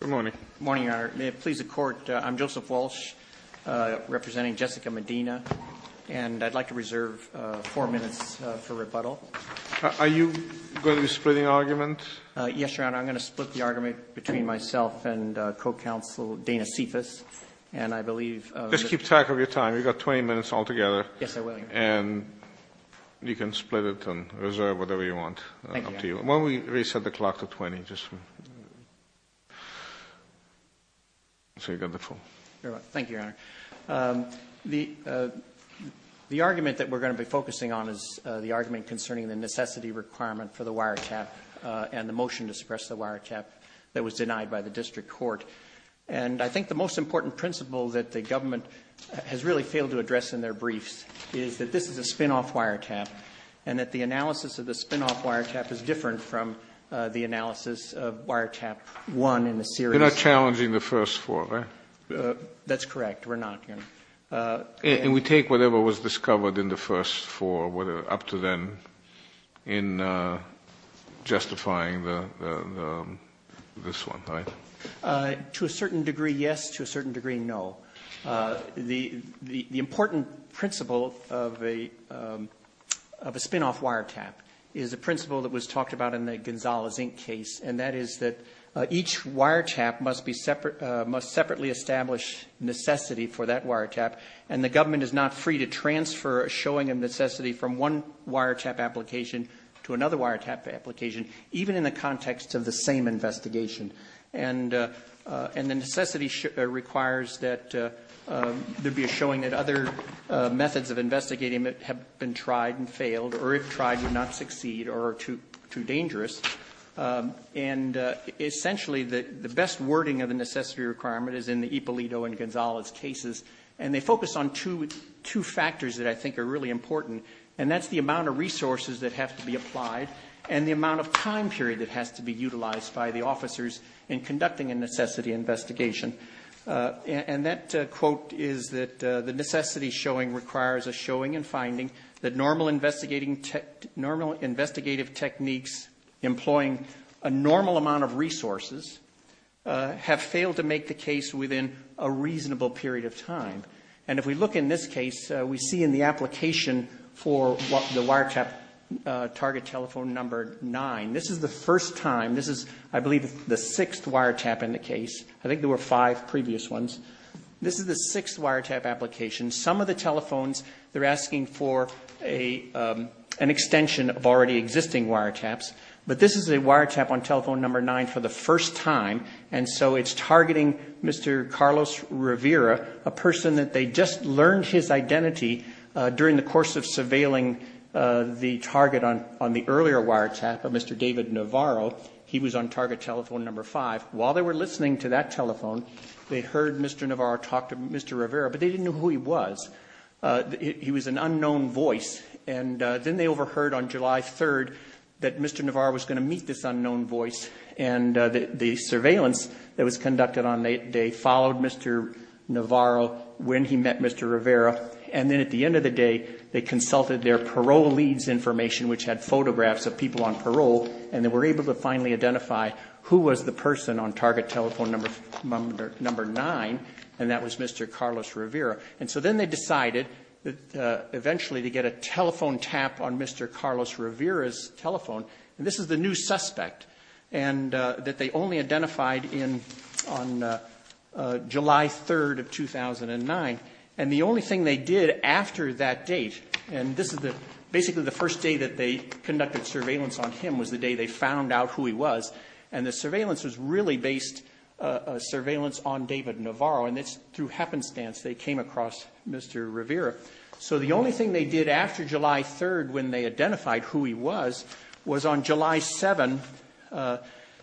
Good morning, Your Honor. May it please the Court, I'm Joseph Walsh representing Jessica Medina, and I'd like to reserve four minutes for rebuttal. Are you going to be splitting argument? Yes, Your Honor. I'm going to split the argument between myself and co-counsel Dana Cephas, and I believe Just keep track of your time. We've got 20 minutes altogether. Yes, I will, Your Honor. And you can split it and reserve whatever you want. Thank you, Your Honor. Why don't we reset the clock to 20, just so you've got the full. Thank you, Your Honor. The argument that we're going to be focusing on is the argument concerning the necessity requirement for the wiretap and the motion to suppress the wiretap. The wiretap that was denied by the district court. And I think the most important principle that the government has really failed to address in their briefs is that this is a spin-off wiretap. And that the analysis of the spin-off wiretap is different from the analysis of wiretap one in the series. You're not challenging the first four, right? That's correct. We're not, Your Honor. And we take whatever was discovered in the first four, up to then, in justifying this one, right? To a certain degree, yes. To a certain degree, no. The important principle of a spin-off wiretap is a principle that was talked about in the Gonzales Inc. case. And that is that each wiretap must separately establish necessity for that wiretap. And the government is not free to transfer a showing of necessity from one wiretap application to another wiretap application, even in the context of the same investigation. And the necessity requires that there be a showing that other methods of investigating have been tried and failed, or if tried, do not succeed, or are too dangerous. And essentially, the best wording of the necessity requirement is in the Ippolito and Gonzales cases. And they focus on two factors that I think are really important. And that's the amount of resources that have to be applied and the amount of time period that has to be utilized by the officers in conducting a necessity investigation. And that quote is that the necessity showing requires a showing and employing a normal amount of resources have failed to make the case within a reasonable period of time. And if we look in this case, we see in the application for the wiretap target telephone number nine. This is the first time, this is, I believe, the sixth wiretap in the case. I think there were five previous ones. This is the sixth wiretap application. Some of the telephones, they're asking for an extension of already existing wiretaps. But this is a wiretap on telephone number nine for the first time. And so it's targeting Mr. Carlos Rivera, a person that they just learned his identity during the course of surveilling the target on the earlier wiretap of Mr. David Navarro. He was on target telephone number five. While they were listening to that telephone, they heard Mr. Navarro talk to Mr. Rivera, but they didn't know who he was. He was an unknown voice. And then they overheard on July 3rd that Mr. Navarro was going to meet this unknown voice. And the surveillance that was conducted on that day followed Mr. Navarro when he met Mr. Rivera. And then at the end of the day, they consulted their parole leads information, which had photographs of people on parole. And they were able to finally identify who was the person on target telephone number nine, and that was Mr. Carlos Rivera. And so then they decided eventually to get a telephone tap on Mr. Carlos Rivera's telephone. And this is the new suspect that they only identified on July 3rd of 2009. And the only thing they did after that date, and this is basically the first day that they conducted surveillance on him, was the day they found out who he was. And the surveillance was really based surveillance on David Navarro. And it's through happenstance they came across Mr. Rivera. So the only thing they did after July 3rd when they identified who he was, was on July 7th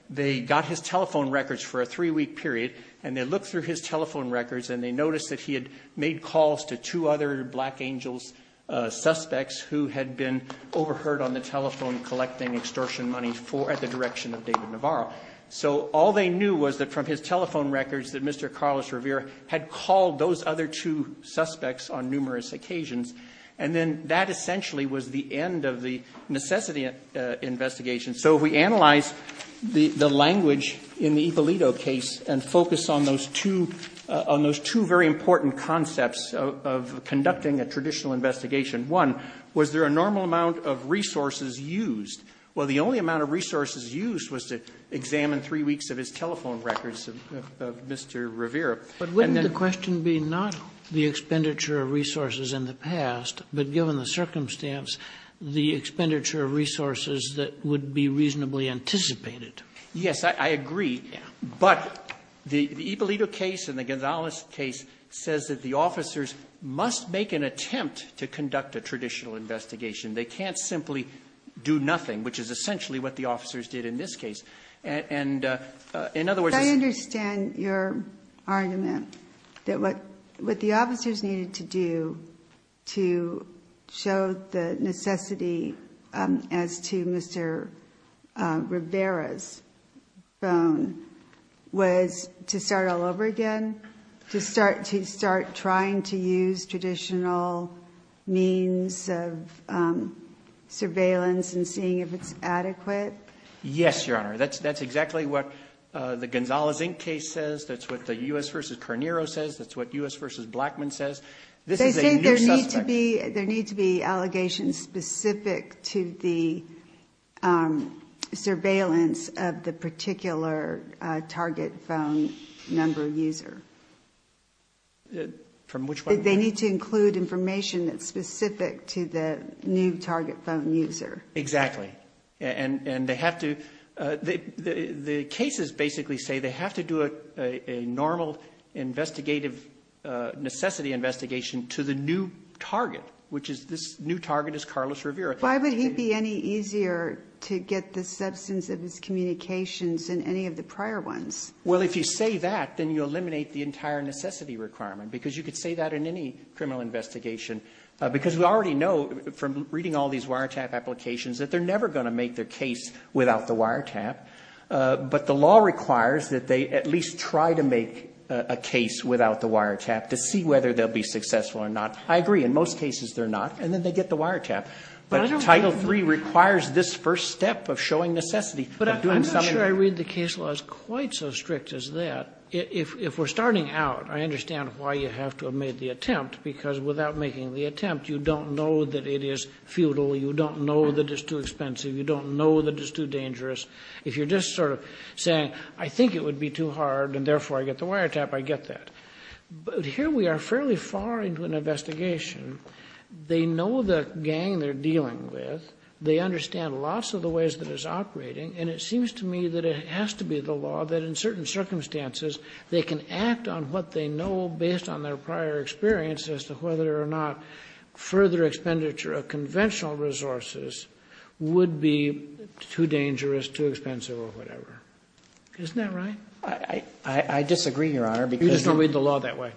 they got his telephone records for a three week period. And they looked through his telephone records and they noticed that he had made calls to two other Black Angels suspects who had been overheard on the telephone collecting extortion money at the direction of David Navarro. So all they knew was that from his telephone records that Mr. Carlos Rivera had called those other two suspects on numerous occasions. And then that essentially was the end of the necessity investigation. So if we analyze the language in the Ippolito case and focus on those two very important concepts of conducting a traditional investigation. One, was there a normal amount of resources used? Well, the only amount of resources used was to examine three weeks of his telephone records of Mr. Rivera. And then- But wouldn't the question be not the expenditure of resources in the past, but given the circumstance, the expenditure of resources that would be reasonably anticipated? Yes, I agree. But the Ippolito case and the Gonzalez case says that the officers must make an attempt to conduct a traditional investigation. They can't simply do nothing, which is essentially what the officers did in this case. And in other words- I understand your argument that what the officers needed to do to show the necessity as to Mr. Rivera's phone was to start all over again, to start trying to use traditional means of surveillance and seeing if it's adequate. Yes, your honor. That's exactly what the Gonzalez Inc case says. That's what the US versus Carneiro says. That's what US versus Blackman says. This is a new suspect. There need to be allegations specific to the surveillance of the particular target phone number user. From which one? They need to include information that's specific to the new target phone user. Exactly. And they have to, the cases basically say they have to do a normal investigative necessity investigation to the new target, which is this new target is Carlos Rivera. Why would he be any easier to get the substance of his communications than any of the prior ones? Well, if you say that, then you eliminate the entire necessity requirement, because you could say that in any criminal investigation, because we already know from reading all these wiretap applications that they're never going to make their case without the wiretap. But the law requires that they at least try to make a case without the wiretap to see whether they'll be successful or not. I agree. In most cases, they're not. And then they get the wiretap. But Title III requires this first step of showing necessity. But I'm not sure I read the case laws quite so strict as that. If we're starting out, I understand why you have to have made the attempt, because without making the attempt, you don't know that it is futile. You don't know that it's too expensive. You don't know that it's too dangerous. If you're just sort of saying, I think it would be too hard, and therefore I get the wiretap, I get that. But here we are fairly far into an investigation. They know the gang they're dealing with. They understand lots of the ways that it's operating. And it seems to me that it has to be the law that in certain circumstances they can act on what they know based on their prior experience as to whether or not further expenditure of conventional resources would be too dangerous, too expensive, or whatever. Isn't that right? I disagree, Your Honor, because you're going to read the law that way.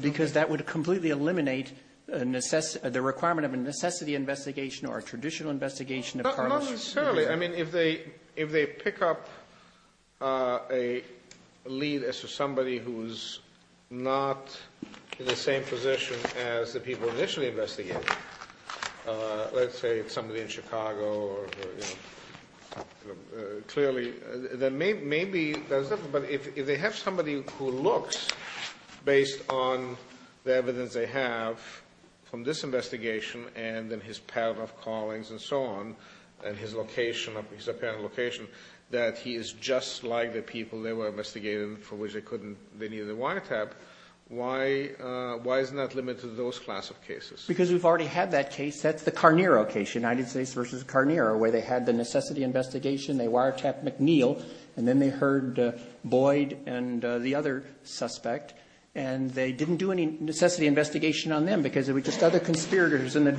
Because that would completely eliminate the requirement of a necessity investigation or a traditional investigation of Carlos. Not necessarily. I mean, if they pick up a lead as to somebody who's not in the same position as the people initially investigated, let's say somebody in Chicago or clearly, then maybe that's different. But if they have somebody who looks based on the evidence they have from this investigation, and then his pattern of callings, and so on, and his location, his apparent location, that he is just like the people they were investigating for which they needed a wiretap, why isn't that limited to those class of cases? Because we've already had that case. That's the Carnero case, United States versus Carnero, where they had the necessity investigation. They wiretapped McNeil, and then they heard Boyd and the other suspect. And they didn't do any necessity investigation on them, because there were just other conspirators in the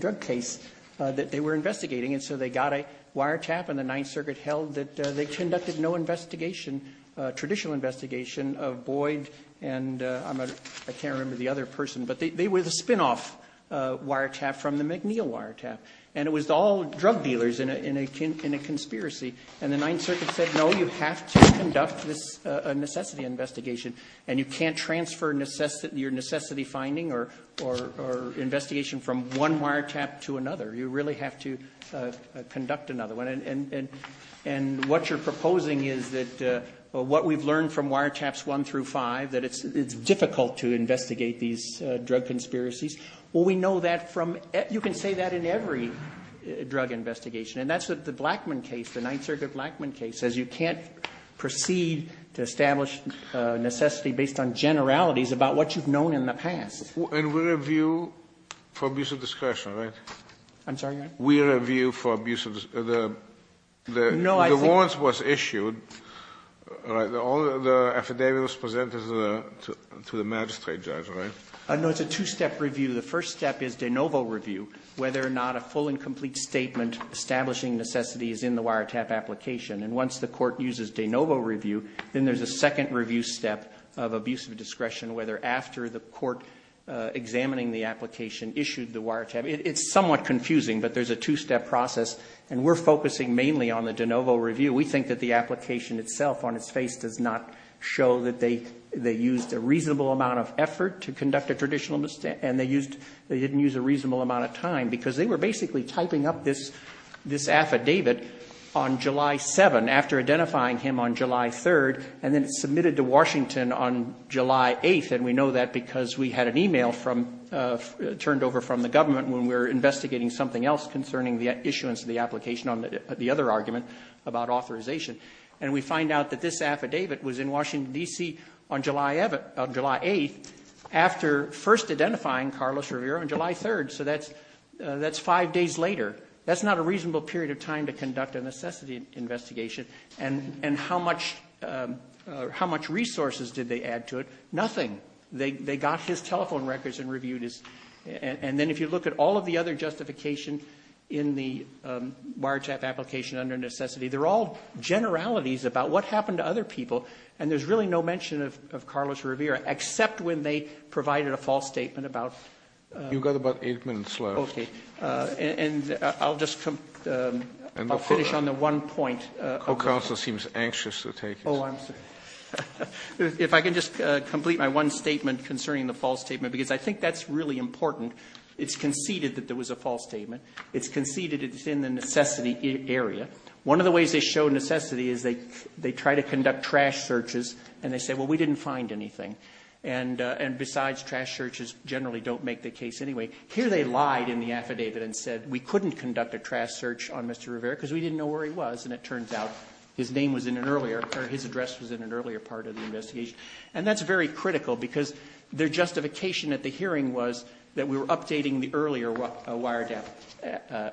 drug case that they were investigating. And so they got a wiretap, and the Ninth Circuit held that they conducted no traditional investigation of Boyd. And I can't remember the other person, but they were the spinoff wiretap from the McNeil wiretap. And it was all drug dealers in a conspiracy. And the Ninth Circuit said, no, you have to conduct this necessity investigation. And you can't transfer your necessity finding or investigation from one wiretap to another. You really have to conduct another one. And what you're proposing is that what we've learned from wiretaps one through five, that it's difficult to investigate these drug conspiracies. Well, we know that from, you can say that in every drug investigation. And that's the Blackmun case, the Ninth Circuit Blackmun case, says you can't proceed to establish necessity based on generalities about what you've known in the past. And we review for abuse of discretion, right? I'm sorry? We review for abuse of, the warrants was issued. All the affidavit was presented to the magistrate judge, right? No, it's a two-step review. The first step is de novo review, whether or not a full and complete statement establishing necessity is in the wiretap application. And once the court uses de novo review, then there's a second review step of abuse of discretion, whether after the court examining the application issued the wiretap. It's somewhat confusing, but there's a two-step process. And we're focusing mainly on the de novo review. We think that the application itself on its face does not show that they used a reasonable amount of effort to conduct a traditional mistake. And they didn't use a reasonable amount of time, because they were basically typing up this affidavit on July 7th. After identifying him on July 3rd, and then submitted to Washington on July 8th. And we know that because we had an email turned over from the government when we were investigating something else concerning the issuance of the application on the other argument about authorization. And we find out that this affidavit was in Washington, D.C. on July 8th, after first identifying Carlos Rivera on July 3rd. So that's five days later. That's not a reasonable period of time to conduct a necessity investigation. And how much resources did they add to it? Nothing. They got his telephone records and reviewed his. And then if you look at all of the other justification in the wiretap application under necessity, they're all generalities about what happened to other people. And there's really no mention of Carlos Rivera, except when they provided a false statement about. You've got about eight minutes left. Okay. And I'll just finish on the one point. The counsel seems anxious to take this. I'm sorry. If I can just complete my one statement concerning the false statement, because I think that's really important. It's conceded that there was a false statement. It's conceded it's in the necessity area. One of the ways they show necessity is they try to conduct trash searches and they say, well, we didn't find anything. And besides, trash searches generally don't make the case anyway. Here they lied in the affidavit and said we couldn't conduct a trash search on Mr. Rivera because we didn't know where he was. And it turns out his name was in an earlier, or his address was in an earlier part of the investigation. And that's very critical because their justification at the hearing was that we were updating the earlier wiretap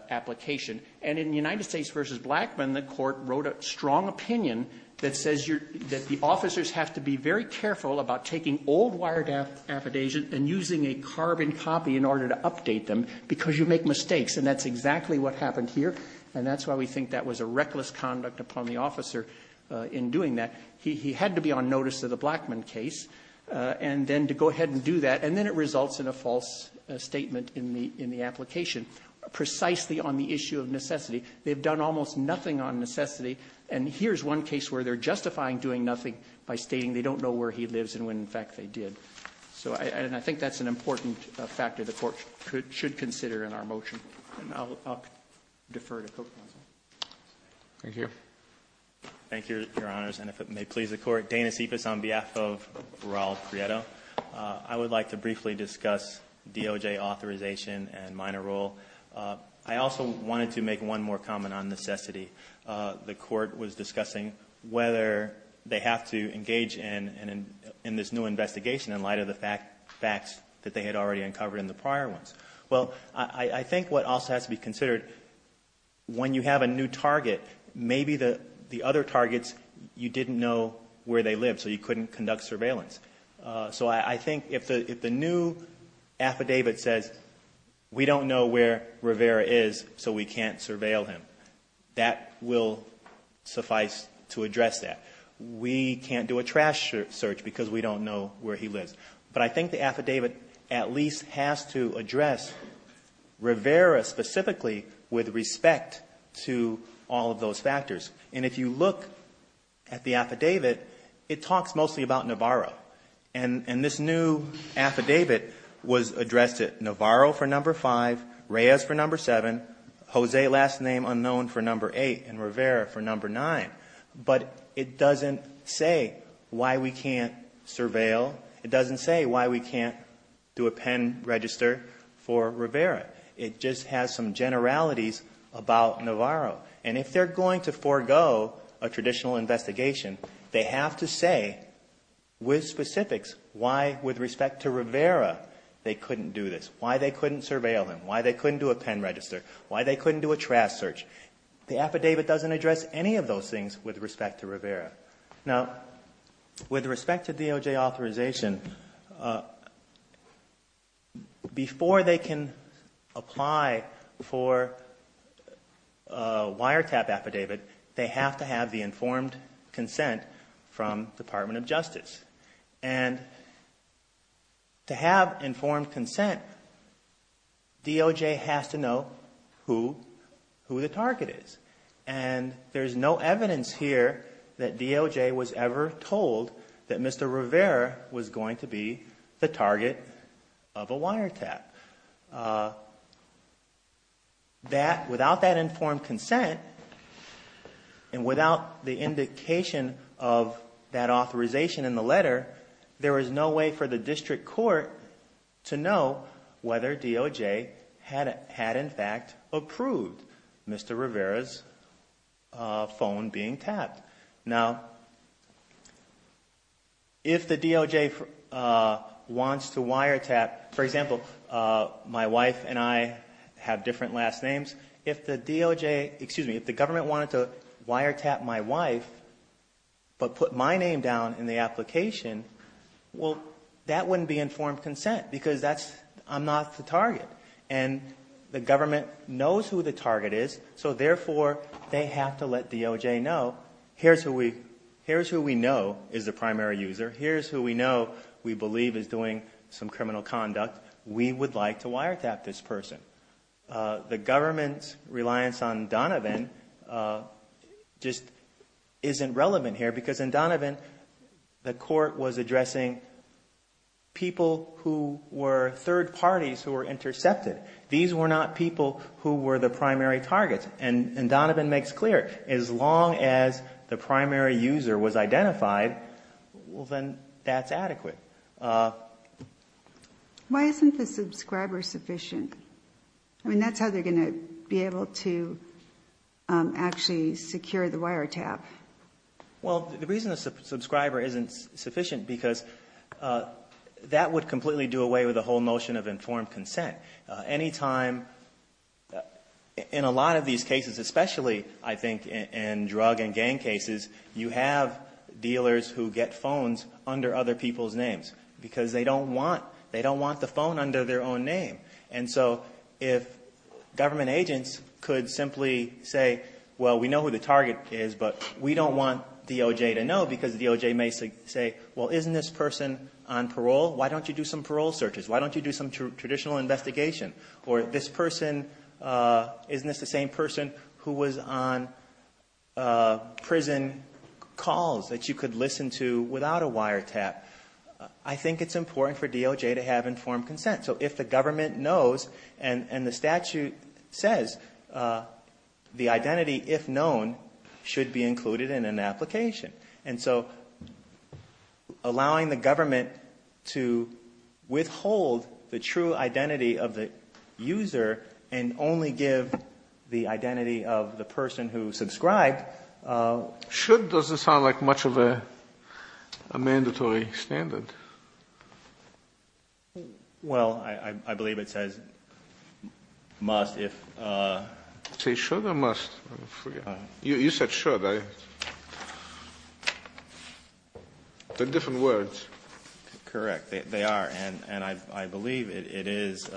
application. And in United States versus Blackmun, the court wrote a strong opinion that says that the officers have to be very careful about taking old wiretap affidavits and using a carbon copy in order to update them because you make mistakes. And that's exactly what happened here. And that's why we think that was a reckless conduct upon the officer in doing that. He had to be on notice of the Blackmun case and then to go ahead and do that. And then it results in a false statement in the application, precisely on the issue of necessity. They've done almost nothing on necessity. And here's one case where they're justifying doing nothing by stating they don't know where he lives and when, in fact, they did. So, and I think that's an important factor the court should consider in our motion. And I'll defer to Co-Counsel. Thank you. Thank you, your honors. And if it may please the court, Dana Cepas on behalf of Raul Prieto. I would like to briefly discuss DOJ authorization and minor role. I also wanted to make one more comment on necessity. The court was discussing whether they have to engage in this new investigation in light of the facts that they had already uncovered in the prior ones. Well, I think what also has to be considered, when you have a new target, maybe the other targets, you didn't know where they lived, so you couldn't conduct surveillance. So I think if the new affidavit says, we don't know where Rivera is, so we can't surveil him. That will suffice to address that. We can't do a trash search because we don't know where he lives. But I think the affidavit at least has to address Rivera specifically with respect to all of those factors. And if you look at the affidavit, it talks mostly about Navarro. And this new affidavit was addressed at Navarro for number five, Reyes for number seven. Jose, last name unknown for number eight, and Rivera for number nine. But it doesn't say why we can't surveil. It doesn't say why we can't do a pen register for Rivera. It just has some generalities about Navarro. And if they're going to forego a traditional investigation, they have to say with specifics why, with respect to Rivera, they couldn't do this. Why they couldn't surveil him. Why they couldn't do a pen register. Why they couldn't do a trash search. The affidavit doesn't address any of those things with respect to Rivera. Now, with respect to DOJ authorization, before they can apply for a wiretap affidavit, they have to have the informed consent from Department of Justice. And to have informed consent, DOJ has to know who the target is. And there's no evidence here that DOJ was ever told that Mr. Rivera was going to be the target of a wiretap. Without that informed consent, and without the indication of that authorization in the letter, there is no way for the district court to know whether DOJ had in fact approved Mr. Rivera's phone being tapped. Now, if the DOJ wants to wiretap, for example, my wife and I have different last names. If the DOJ, excuse me, if the government wanted to wiretap my wife, but put my name down in the application, well, that wouldn't be informed consent, because I'm not the target. And the government knows who the target is. So therefore, they have to let DOJ know, here's who we know is the primary user. Here's who we know we believe is doing some criminal conduct. We would like to wiretap this person. The government's reliance on Donovan just isn't relevant here. Because in Donovan, the court was addressing people who were third parties who were intercepted. These were not people who were the primary targets. And Donovan makes clear, as long as the primary user was identified, well, then that's adequate. Why isn't the subscriber sufficient? I mean, that's how they're going to be able to actually secure the wiretap. Well, the reason the subscriber isn't sufficient, because that would completely do away with the whole notion of informed consent. Any time, in a lot of these cases, especially, I think, in drug and gang cases, you have dealers who get phones under other people's names. Because they don't want the phone under their own name. And so if government agents could simply say, well, we know who the target is, but we don't want DOJ to know. Because DOJ may say, well, isn't this person on parole? Why don't you do some parole searches? Why don't you do some traditional investigation? Or this person, isn't this the same person who was on prison calls that you could listen to without a wiretap? I think it's important for DOJ to have informed consent. So if the government knows, and the statute says, the identity, if known, should be included in an application. And so, allowing the government to withhold the true identity of the user and only give the identity of the person who subscribed... Should doesn't sound like much of a mandatory standard. Well, I believe it says must if... Say should or must? I forget. You said should. I... They're different words. Correct, they are. And I believe it is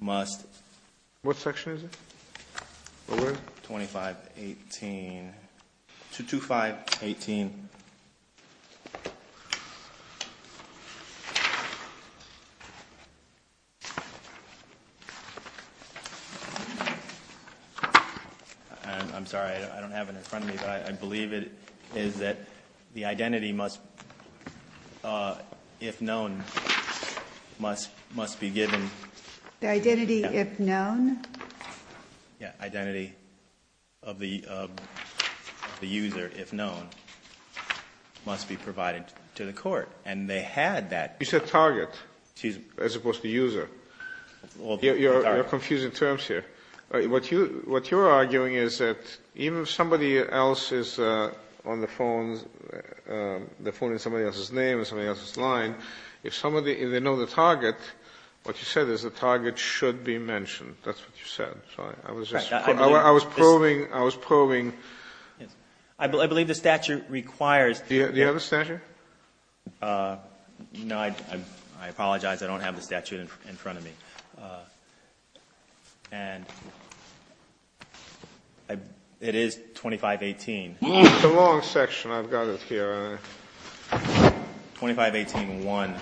must... What section is it? What word? 2518... 2-5-18... I'm sorry, I don't have it in front of me, but I believe it is that the identity must... If known, must be given... The identity if known? Yeah, identity of the user, if known, must be provided to the court. And they had that... You said target. As opposed to user. You're confusing terms here. What you're arguing is that even if somebody else is on the phone, the phone is somebody else's name, somebody else's line, if they know the target, what you said is the target should be mentioned. That's what you said. I was probing... I believe the statute requires... Do you have a statute? No, I apologize, I don't have the statute in front of me. And it is 2518. It's a long section, I've got it here. 2518-1,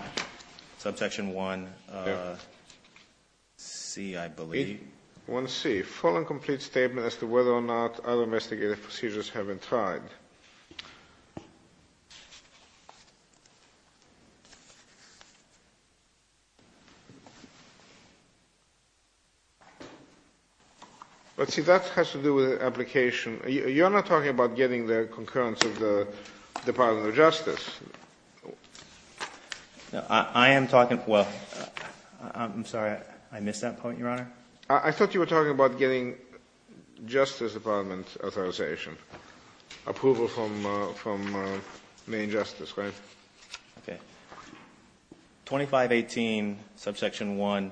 subsection 1c, I believe. 1c, full and complete statement as to whether or not other investigative procedures have been tried. Let's see, that has to do with application. You're not talking about getting the concurrence of the Department of Justice. I am talking... Well, I'm sorry, I missed that point, Your Honor. I thought you were talking about getting Justice Department authorization. Approval from main justice, right? Okay, 2518, subsection 1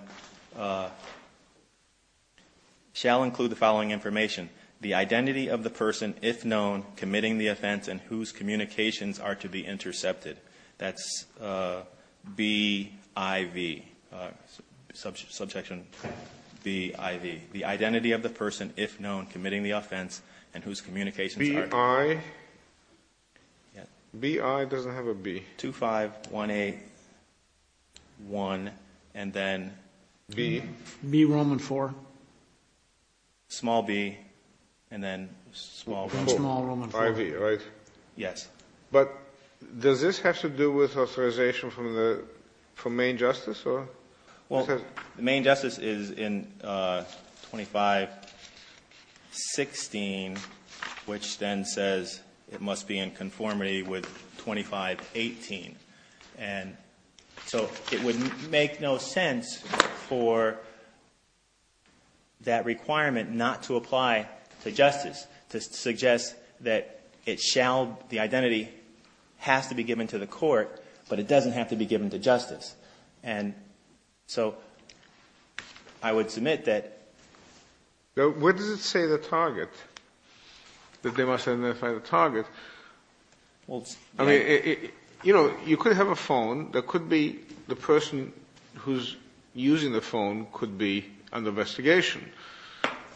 shall include the following information. The identity of the person, if known, committing the offense and whose communications are to be intercepted. That's BIV, subsection BIV. The identity of the person, if known, committing the offense and whose communications are... BI? BI doesn't have a B. 2518-1 and then... B. B Roman IV. Small B and then small Roman IV. IV, right? Yes. But does this have to do with authorization from main justice or... The main justice is in 2516, which then says it must be in conformity with 2518. And so it would make no sense for that requirement not to apply to justice, to suggest that it shall, the identity has to be given to the court, but it doesn't have to be given to justice. And so I would submit that... Where does it say the target? That they must identify the target? Well, you know, you could have a phone that could be the person who's using the phone could be under investigation.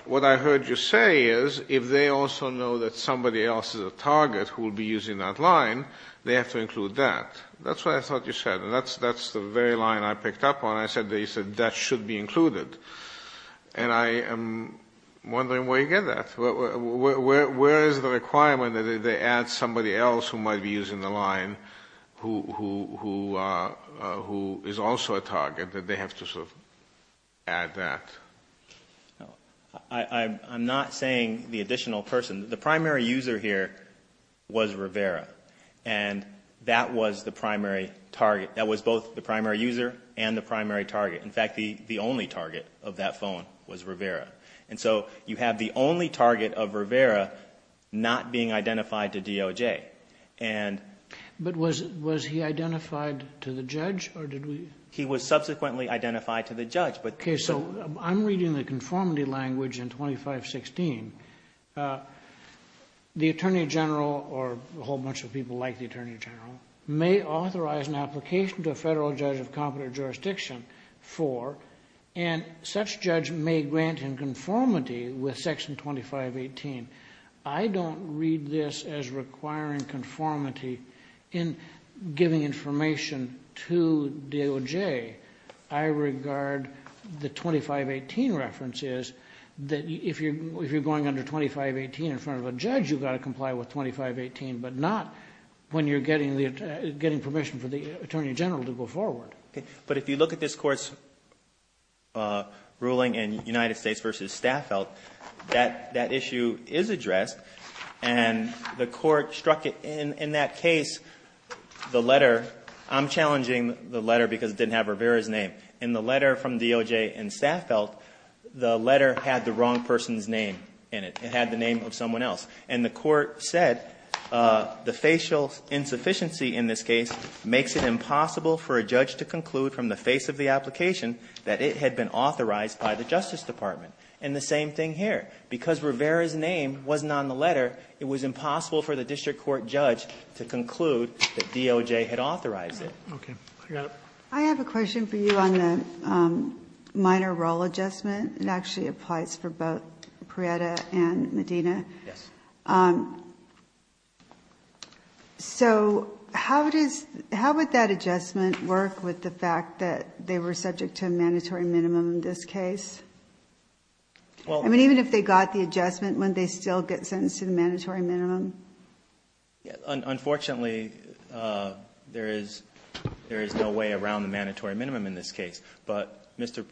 What I heard you say is if they also know that somebody else is a target who will be using that line, they have to include that. That's what I thought you said. And that's the very line I picked up on. I said that you said that should be included. And I am wondering where you get that. Where is the requirement that they add somebody else who might be using the line who is also a target, that they have to sort of add that? I'm not saying the additional person. The primary user here was Rivera. And that was the primary target. That was both the primary user and the primary target. In fact, the only target of that phone was Rivera. And so you have the only target of Rivera not being identified to DOJ. And... But was he identified to the judge or did we... He was subsequently identified to the judge. Okay, so I'm reading the conformity language in 2516. The Attorney General or a whole bunch of people like the Attorney General may authorize an application to a federal judge of competent jurisdiction for, and such judge may grant in conformity with Section 2518. I don't read this as requiring conformity in giving information to DOJ. I regard the 2518 reference is that if you're going under 2518 in front of a judge, you've got to comply with 2518, but not when you're getting permission for the Attorney General to go forward. But if you look at this Court's ruling in United States v. Staffeld, that issue is addressed. And the Court struck it in that case, the letter, I'm challenging the letter because it didn't have Rivera's name. In the letter from DOJ and Staffeld, the letter had the wrong person's name in it. It had the name of someone else. And the Court said the facial insufficiency in this case makes it impossible for a judge to conclude from the face of the application that it had been authorized by the Justice Department. And the same thing here. Because Rivera's name wasn't on the letter, it was impossible for the district court judge to conclude that DOJ had authorized it. Okay, I got it. I have a question for you on the minor role adjustment. It actually applies for both Prieta and Medina. Yes. So how would that adjustment work with the fact that they were subject to a mandatory minimum in this case? I mean, even if they got the adjustment, wouldn't they still get sentenced to the mandatory minimum? Yeah, unfortunately, there is no way around the mandatory minimum in this case. But Mr.-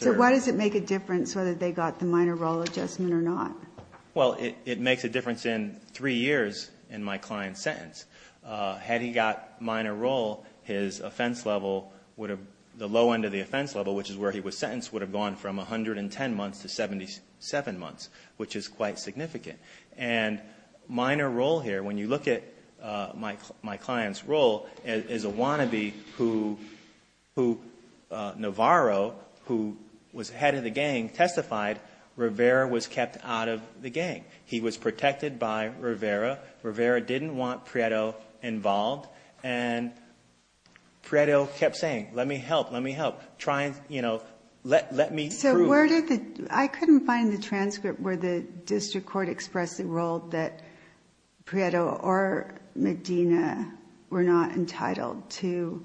So why does it make a difference whether they got the minor role adjustment or not? Well, it makes a difference in three years in my client's sentence. Had he got minor role, his offense level would have, the low end of the offense level, which is where he was sentenced, would have gone from 110 months to 77 months, which is quite significant. And minor role here, when you look at my client's role, is a wannabe who, Navarro, who was head of the gang, testified Rivera was kept out of the gang. He was protected by Rivera. Rivera didn't want Prieto involved. And Prieto kept saying, let me help, let me help, try and let me prove- So where did the, I couldn't find the transcript where the district court expressed the role that Prieto or Medina were not entitled to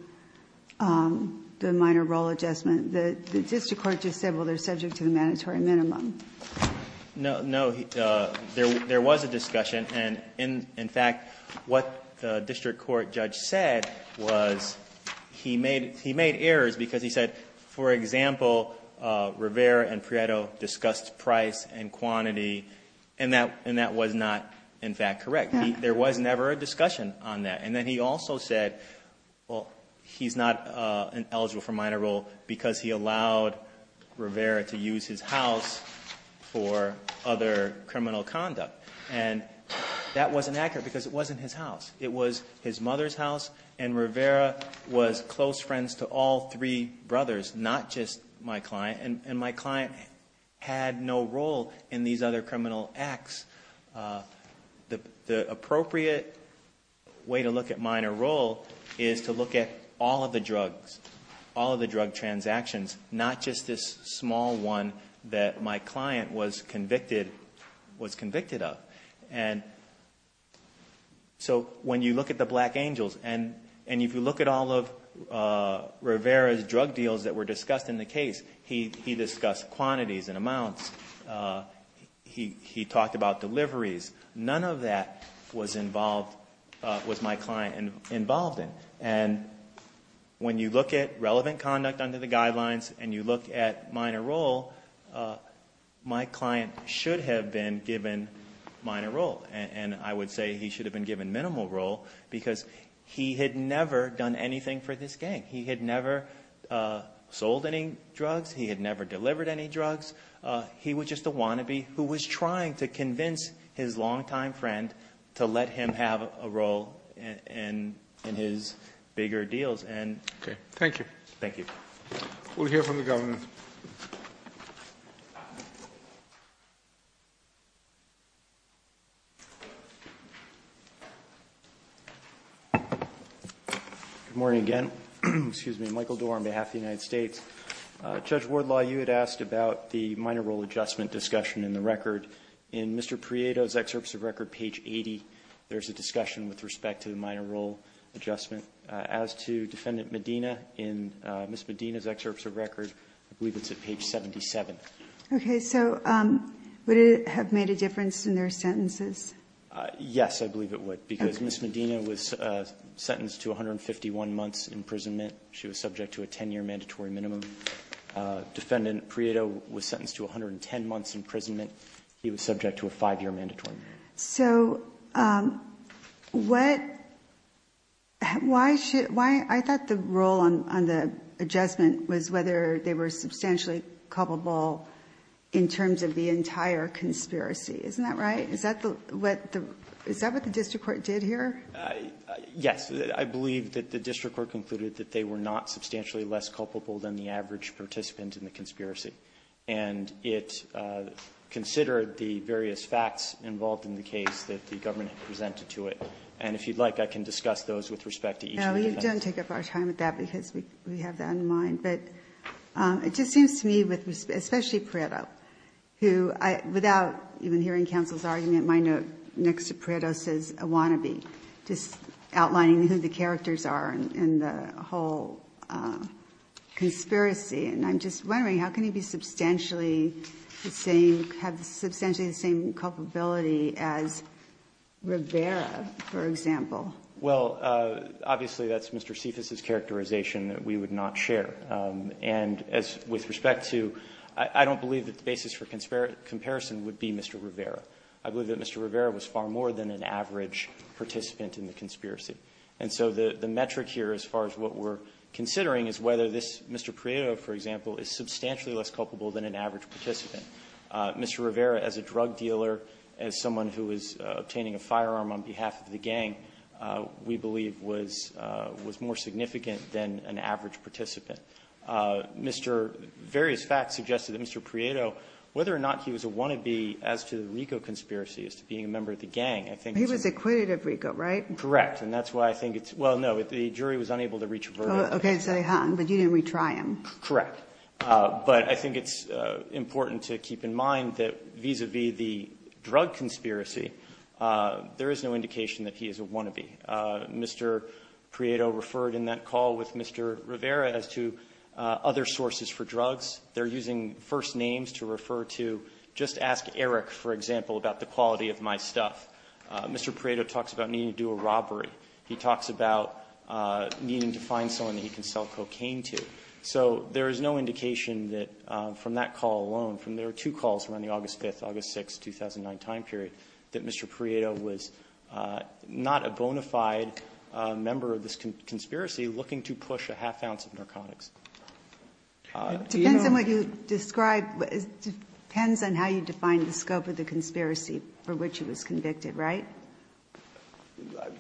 the minor role adjustment. The district court just said, well, they're subject to the mandatory minimum. No, no, there was a discussion. And in fact, what the district court judge said was, he made errors because he said, for example, Rivera and Prieto discussed price and quantity, and that was not, in fact, correct. There was never a discussion on that. And then he also said, well, he's not eligible for minor role because he allowed Rivera to use his house for other criminal conduct. And that wasn't accurate because it wasn't his house. It was his mother's house, and Rivera was close friends to all three brothers, not just my client. And my client had no role in these other criminal acts. The appropriate way to look at minor role is to look at all of the drugs, all of the drug transactions, not just this small one that my client was convicted of. And so when you look at the Black Angels, and if you look at all of Rivera's drug deals that were discussed in the case, he discussed quantities and amounts. He talked about deliveries. None of that was involved, was my client involved in. And when you look at relevant conduct under the guidelines, and you look at minor role, my client should have been given minor role. And I would say he should have been given minimal role because he had never done anything for this gang. He had never sold any drugs. He had never delivered any drugs. He was just a wannabe who was trying to convince his long time friend to let him have a role in his. Bigger deals, and- Okay, thank you. Thank you. We'll hear from the government. Good morning again. Excuse me, Michael Dore on behalf of the United States. Judge Wardlaw, you had asked about the minor role adjustment discussion in the record. In Mr. Prieto's excerpts of record, page 80, there's a discussion with respect to the minor role adjustment. As to Defendant Medina, in Ms. Medina's excerpts of record, I believe it's at page 77. Okay, so would it have made a difference in their sentences? Yes, I believe it would, because Ms. Medina was sentenced to 151 months imprisonment. She was subject to a 10 year mandatory minimum. Defendant Prieto was sentenced to 110 months imprisonment. He was subject to a five year mandatory minimum. So, I thought the role on the adjustment was whether they were substantially culpable in terms of the entire conspiracy. Isn't that right? Is that what the district court did here? Yes, I believe that the district court concluded that they were not substantially less culpable than the average participant in the conspiracy. And it considered the various facts involved in the case that the government presented to it. And if you'd like, I can discuss those with respect to each of the defendants. No, you don't take up our time with that because we have that in mind. But it just seems to me, especially Prieto, who without even hearing counsel's argument, my note next to Prieto says a wannabe. Just outlining who the characters are in the whole conspiracy. And I'm just wondering, how can he have substantially the same culpability as Rivera, for example? Well, obviously that's Mr. Cephas' characterization that we would not share. And with respect to, I don't believe that the basis for comparison would be Mr. Rivera. I believe that Mr. Rivera was far more than an average participant in the conspiracy. And so the metric here, as far as what we're considering, is whether this Mr. Prieto, for example, is substantially less culpable than an average participant. Mr. Rivera, as a drug dealer, as someone who is obtaining a firearm on behalf of the gang, we believe was more significant than an average participant. Various facts suggested that Mr. Prieto, whether or not he was a wannabe as to the RICO conspiracy, as to being a member of the gang, I think- He was acquitted of RICO, right? Correct, and that's why I think it's, well, no, the jury was unable to reach a verdict. Okay, so they hung, but you didn't retry him. Correct. But I think it's important to keep in mind that vis-a-vis the drug conspiracy, there is no indication that he is a wannabe. Mr. Prieto referred in that call with Mr. Rivera as to other sources for drugs. They're using first names to refer to, just ask Eric, for example, about the quality of my stuff. Mr. Prieto talks about needing to do a robbery. He talks about needing to find someone that he can sell cocaine to. So there is no indication that from that call alone, from there were two calls from on the August 5th, August 6th, 2009 time period, that Mr. Prieto was not a bona fide member of this conspiracy looking to push a half ounce of narcotics. Do you know- It depends on what you describe, it depends on how you define the scope of the conspiracy for which he was convicted, right?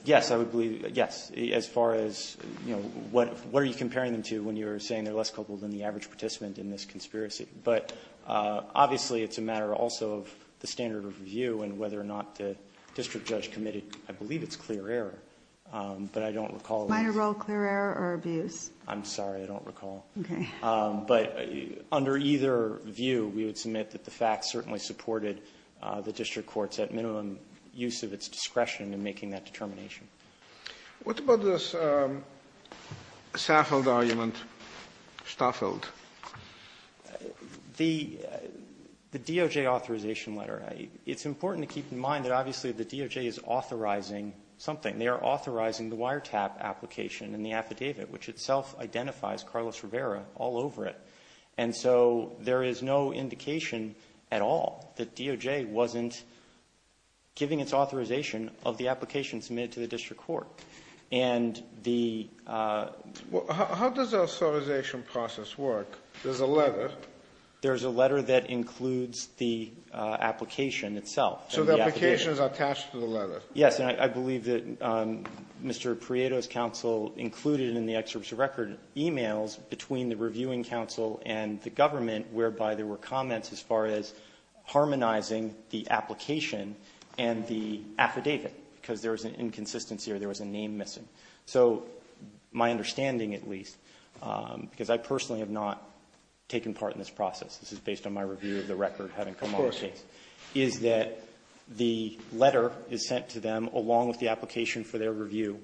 Yes, I would believe, yes, as far as, you know, what are you comparing them to when you're saying they're less culpable than the average participant in this conspiracy? But obviously, it's a matter also of the standard of review and whether or not the district judge committed, I believe it's clear error, but I don't recall- Minor role clear error or abuse? I'm sorry, I don't recall. Okay. But under either view, we would submit that the facts certainly supported the district court's, at minimum, use of its discretion in making that determination. What about this Stafford argument, Stafford? The DOJ authorization letter, it's important to keep in mind that obviously the DOJ is authorizing something. And they are authorizing the wiretap application and the affidavit, which itself identifies Carlos Rivera all over it. And so, there is no indication at all that DOJ wasn't giving its authorization of the application submitted to the district court. And the- How does the authorization process work? There's a letter. There's a letter that includes the application itself. So the application is attached to the letter. Yes. And I believe that Mr. Prieto's counsel included in the excerpt of the record emails between the reviewing counsel and the government, whereby there were comments as far as harmonizing the application and the affidavit, because there was an inconsistency or there was a name missing. So my understanding, at least, because I personally have not taken part in this process, this is based on my review of the record having come on the case, is that the letter is sent to them along with the application for their review,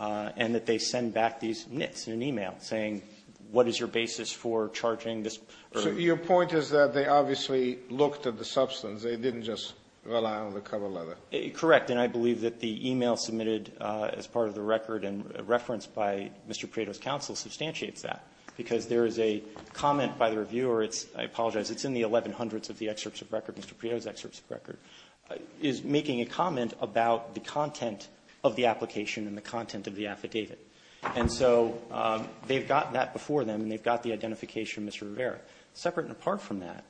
and that they send back these nits in an e-mail saying, what is your basis for charging this- So your point is that they obviously looked at the substance. They didn't just rely on the cover letter. Correct. And I believe that the e-mail submitted as part of the record and referenced by Mr. Prieto's counsel substantiates that, because there is a comment by the reviewer. I apologize. It's in the 1100s of the excerpts of record, Mr. Prieto's excerpts of record. Is making a comment about the content of the application and the content of the affidavit. And so they've gotten that before them, and they've got the identification, Mr. Rivera. Separate and apart from that,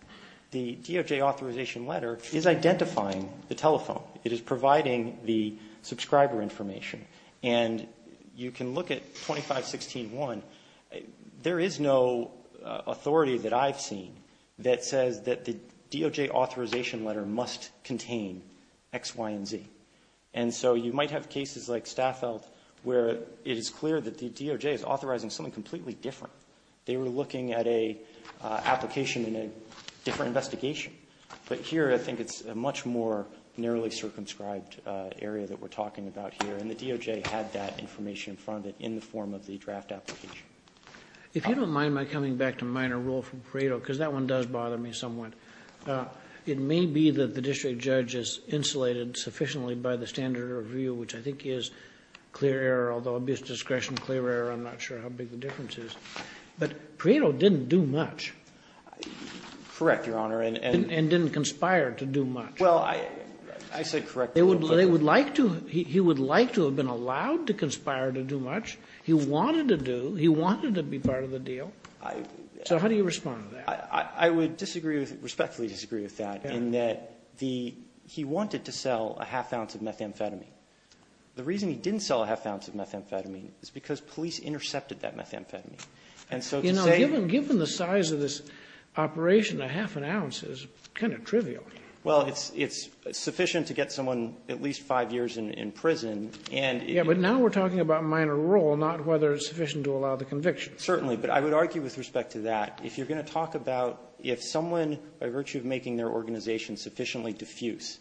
the DOJ authorization letter is identifying the telephone. It is providing the subscriber information. And you can look at 2516.1, there is no authority that I've seen that says that the DOJ authorization letter must contain X, Y, and Z. And so you might have cases like Staffeld, where it is clear that the DOJ is authorizing something completely different. They were looking at a application in a different investigation. But here, I think it's a much more narrowly circumscribed area that we're talking about here. And the DOJ had that information in front of it in the form of the draft application. If you don't mind my coming back to minor rule from Prieto, because that one does bother me somewhat. It may be that the district judge is insulated sufficiently by the standard of review, which I think is clear error. Although, obvious discretion, clear error, I'm not sure how big the difference is. But Prieto didn't do much. Correct, Your Honor, and- And didn't conspire to do much. Well, I said correct- They would like to, he would like to have been allowed to conspire to do much. He wanted to do, he wanted to be part of the deal. So how do you respond to that? I would respectfully disagree with that, in that he wanted to sell a half ounce of methamphetamine. The reason he didn't sell a half ounce of methamphetamine is because police intercepted that methamphetamine. And so to say- Given the size of this operation, a half an ounce is kind of trivial. Well, it's sufficient to get someone at least five years in prison, and- Yes, but now we're talking about minor rule, not whether it's sufficient to allow the conviction. Certainly. But I would argue with respect to that, if you're going to talk about if someone, by virtue of making their organization sufficiently diffuse,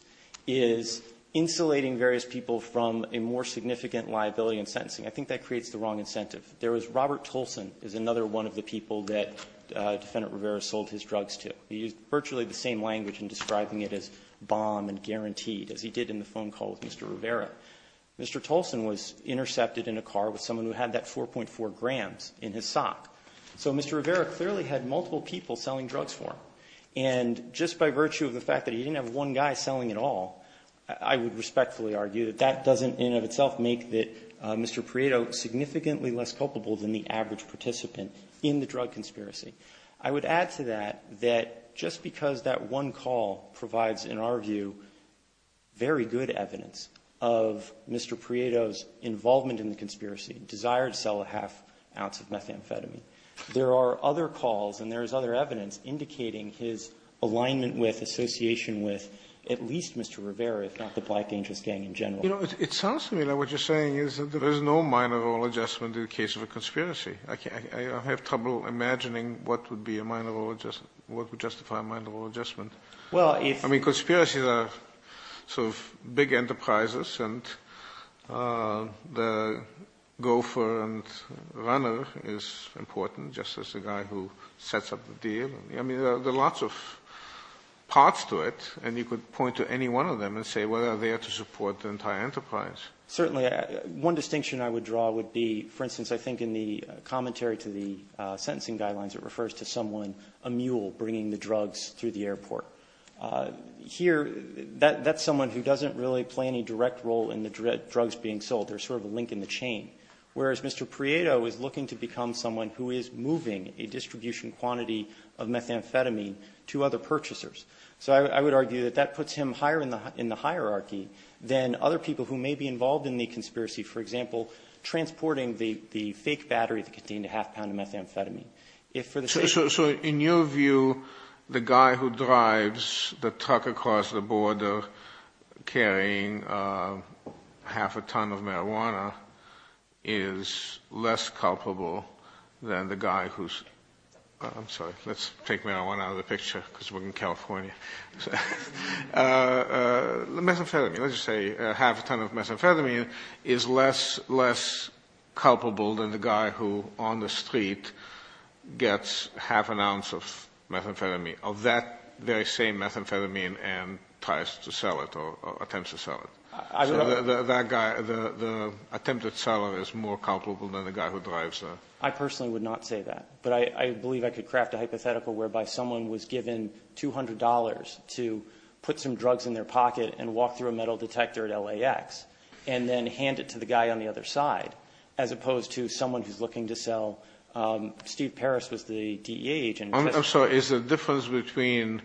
is insulating various people from a more significant liability in sentencing, I think that creates the wrong incentive. There was Robert Tolson is another one of the people that Defendant Rivera sold his drugs to. He used virtually the same language in describing it as bomb and guaranteed, as he did in the phone call with Mr. Rivera. Mr. Tolson was intercepted in a car with someone who had that 4.4 grams in his sock. So Mr. Rivera clearly had multiple people selling drugs for him. And just by virtue of the fact that he didn't have one guy selling it all, I would respectfully argue that that doesn't in and of itself make that Mr. Prieto significantly less culpable than the average participant in the drug conspiracy. I would add to that that just because that one call provides, in our view, very good evidence of Mr. Prieto's involvement in the conspiracy, desire to sell a half ounce of methamphetamine, there are other calls and there is other evidence indicating his alignment with, association with, at least Mr. Rivera, if not the Black Angels gang in general. It sounds to me like what you're saying is that there is no minor role adjustment in the case of a conspiracy. I have trouble imagining what would be a minor role adjustment, what would justify a minor role adjustment. I mean, conspiracies are sort of big enterprises and the gopher and runner is important, just as the guy who sets up the deal. I mean, there are lots of parts to it and you could point to any one of them and say, well, they are to support the entire enterprise. Certainly. One distinction I would draw would be, for instance, I think in the commentary to the Here, that's someone who doesn't really play any direct role in the drugs being sold. There is sort of a link in the chain. Whereas Mr. Prieto is looking to become someone who is moving a distribution quantity of methamphetamine to other purchasers. So I would argue that that puts him higher in the hierarchy than other people who may be involved in the conspiracy, for example, transporting the fake battery that contained a half pound of methamphetamine. So in your view, the guy who drives the truck across the border carrying half a ton of marijuana is less culpable than the guy who's... I'm sorry, let's take marijuana out of the picture because we're in California. The methamphetamine, let's just say half a ton of methamphetamine is less culpable than the guy who on the street gets half an ounce of methamphetamine, of that very same methamphetamine and tries to sell it or attempts to sell it. So that guy, the attempted seller is more culpable than the guy who drives the... I personally would not say that. But I believe I could craft a hypothetical whereby someone was given $200 to put some drugs in their pocket and walk through a metal detector at LAX and then hand it to the guy on the other side, as opposed to someone who's looking to sell... Steve Paris was the DEA agent. I'm sorry, is the difference between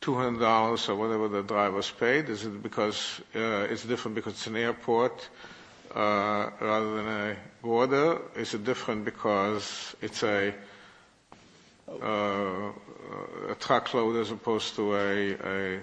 $200 or whatever the driver's paid, is it because it's different because it's an airport rather than a border? Is it different because it's a truckload as opposed to a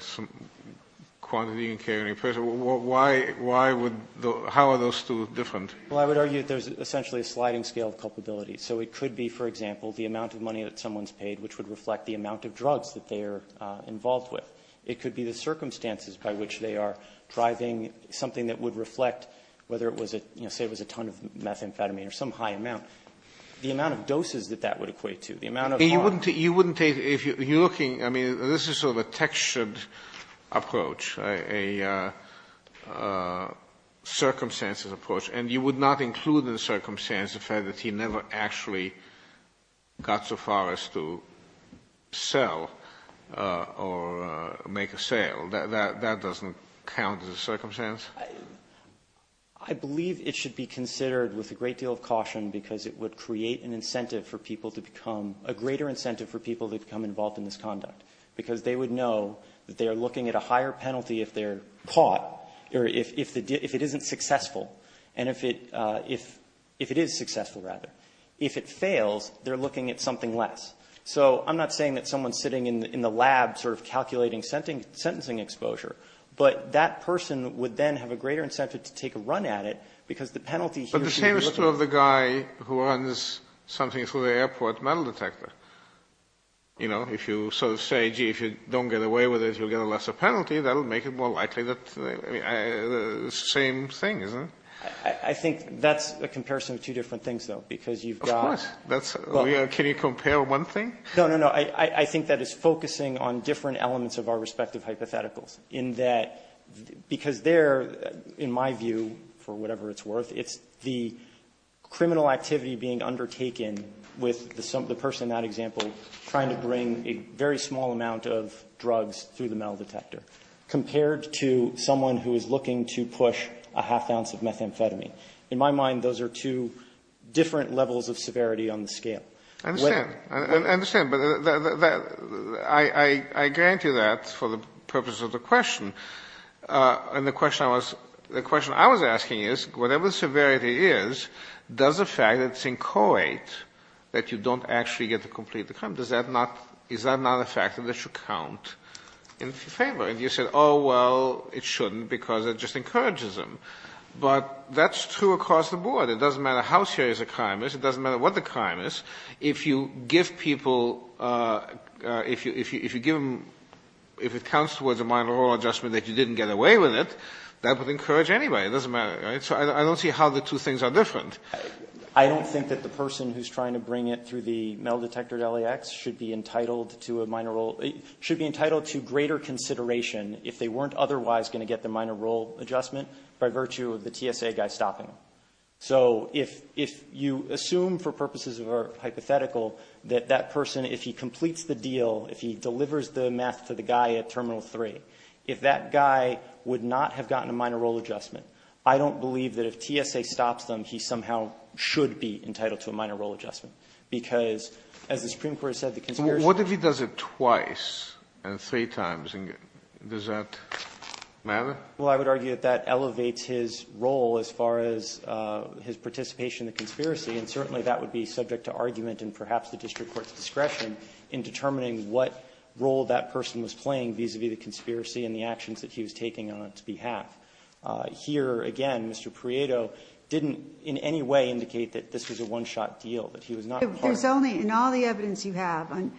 quantity and carrying person? How are those two different? Well, I would argue that there's essentially a sliding scale of culpability. So it could be, for example, the amount of money that someone's paid, which would reflect the amount of drugs that they are involved with. It could be the circumstances by which they are driving something that would reflect, whether it was a ton of methamphetamine or some high amount, the amount of doses that that would equate to, the amount of... You wouldn't take... If you're looking... I mean, this is sort of a textured approach, a circumstances approach, and you would not include in the circumstance the fact that he never actually got so far as to sell or make a sale. That doesn't count as a circumstance? I believe it should be considered with a great deal of caution because it would create an incentive for people to become involved in this conduct because they would know that they are looking at a higher penalty if they're caught, or if it isn't successful. And if it is successful, rather. If it fails, they're looking at something less. So I'm not saying that someone sitting in the lab sort of calculating sentencing exposure, but that person would then have a greater incentive to take a run at it because the penalty here... is something through the airport metal detector. You know, if you sort of say, gee, if you don't get away with it, you'll get a lesser penalty, that'll make it more likely that... Same thing, isn't it? I think that's a comparison of two different things, though, because you've got... Of course. That's... Can you compare one thing? No, no, no. I think that is focusing on different elements of our respective hypotheticals in that... Because there, in my view, for whatever it's worth, it's the criminal activity being under taken with the person in that example trying to bring a very small amount of drugs through the metal detector, compared to someone who is looking to push a half ounce of methamphetamine. In my mind, those are two different levels of severity on the scale. I understand. I understand. But that... I grant you that for the purpose of the question, and the question I was... Whatever the severity is, does the fact that it's inchoate, that you don't actually get to complete the crime, does that not... Is that not a fact that it should count in favor? And you said, oh, well, it shouldn't because it just encourages them. But that's true across the board. It doesn't matter how serious a crime is, it doesn't matter what the crime is. If you give people... If you give them... If it counts towards a minor law adjustment that you didn't get away with it, that would encourage anybody. It doesn't matter, right? So I don't see how the two things are different. I don't think that the person who's trying to bring it through the metal detector at LAX should be entitled to a minor role... Should be entitled to greater consideration if they weren't otherwise going to get the minor role adjustment by virtue of the TSA guy stopping them. So if you assume for purposes of our hypothetical that that person, if he completes the deal, if he delivers the meth to the guy at Terminal 3, if that guy would not have gotten a minor role adjustment, I don't believe that if TSA stops them, he somehow should be entitled to a minor role adjustment because, as the Supreme Court has said, the conspiracy... What if he does it twice and three times? Does that matter? Well, I would argue that that elevates his role as far as his participation in the conspiracy, and certainly that would be subject to argument and perhaps the district court's discretion in determining what role that person was playing vis-a-vis the conspiracy and the actions that he was taking on its behalf. Here, again, Mr. Prieto didn't in any way indicate that this was a one-shot deal, that he was not part of it. In all the evidence you have on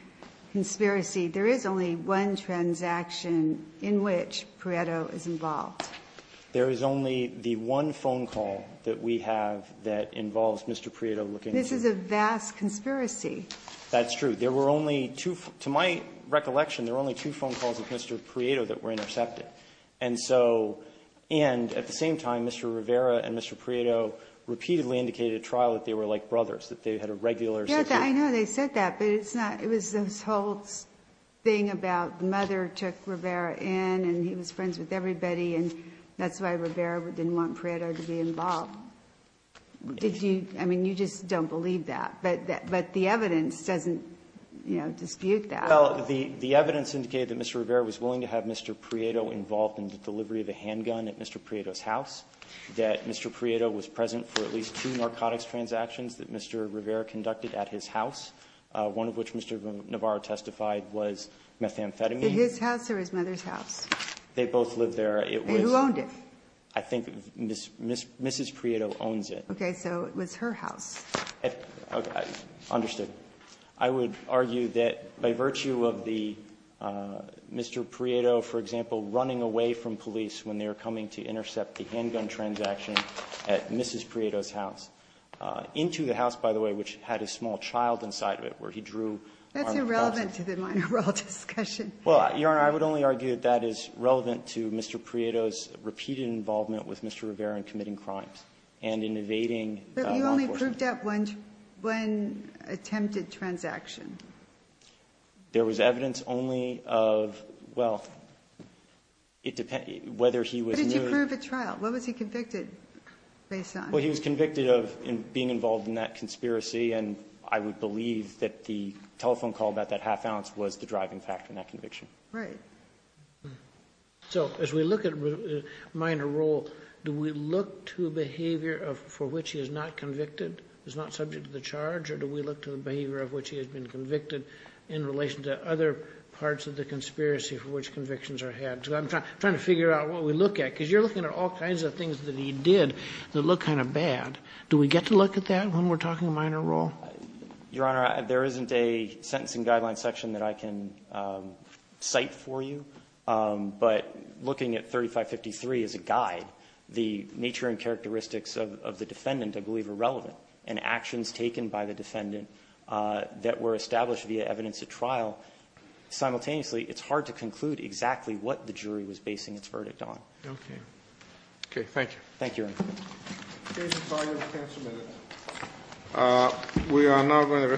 conspiracy, there is only one transaction in which Prieto is involved. There is only the one phone call that we have that involves Mr. Prieto looking into it. This is a vast conspiracy. That's true. There were only two to my recollection, there were only two phone calls of Mr. Prieto that were intercepted. And so at the same time, Mr. Rivera and Mr. Prieto repeatedly indicated at trial that they were like brothers, that they had a regular situation. I know they said that, but it's not the whole thing about the mother took Rivera in, and he was friends with everybody, and that's why Rivera didn't want Prieto to be involved. Did you do that? I mean, you just don't believe that, but the evidence doesn't dispute that. Well, the evidence indicated that Mr. Rivera was willing to have Mr. Prieto involved in the delivery of a handgun at Mr. Prieto's house, that Mr. Prieto was present for at least two narcotics transactions that Mr. Rivera conducted at his house, one of which Mr. Navarro testified was methamphetamine. His house or his mother's house? They both lived there. Who owned it? I think Mrs. Prieto owns it. Okay. So it was her house. Understood. I would argue that by virtue of the Mr. Prieto, for example, running away from police when they were coming to intercept the handgun transaction at Mrs. Prieto's house, into the house, by the way, which had a small child inside of it, where he drew armed forces. That's irrelevant to the minor role discussion. Well, Your Honor, I would only argue that that is relevant to Mr. Prieto's repeated involvement with Mr. Rivera in committing crimes and in evading law enforcement. He only proved that one attempted transaction. There was evidence only of, well, it depends whether he was new. But did you prove at trial? What was he convicted based on? Well, he was convicted of being involved in that conspiracy, and I would believe that the telephone call about that half ounce was the driving factor in that conviction. Right. So as we look at minor role, do we look to behavior for which he is not convicted? He's not subject to the charge, or do we look to the behavior of which he has been convicted in relation to other parts of the conspiracy for which convictions are had? I'm trying to figure out what we look at, because you're looking at all kinds of things that he did that look kind of bad. Do we get to look at that when we're talking minor role? Your Honor, there isn't a sentencing guideline section that I can cite for you, but looking at 3553 as a guide, the nature and characteristics of the defendant, I believe, are relevant, and actions taken by the defendant that were established via evidence at trial, simultaneously, it's hard to conclude exactly what the jury was basing its verdict on. Okay. Okay. Thank you. Thank you, Your Honor. The case is argued and canceled, Your Honor. We are now going to return to the hearing.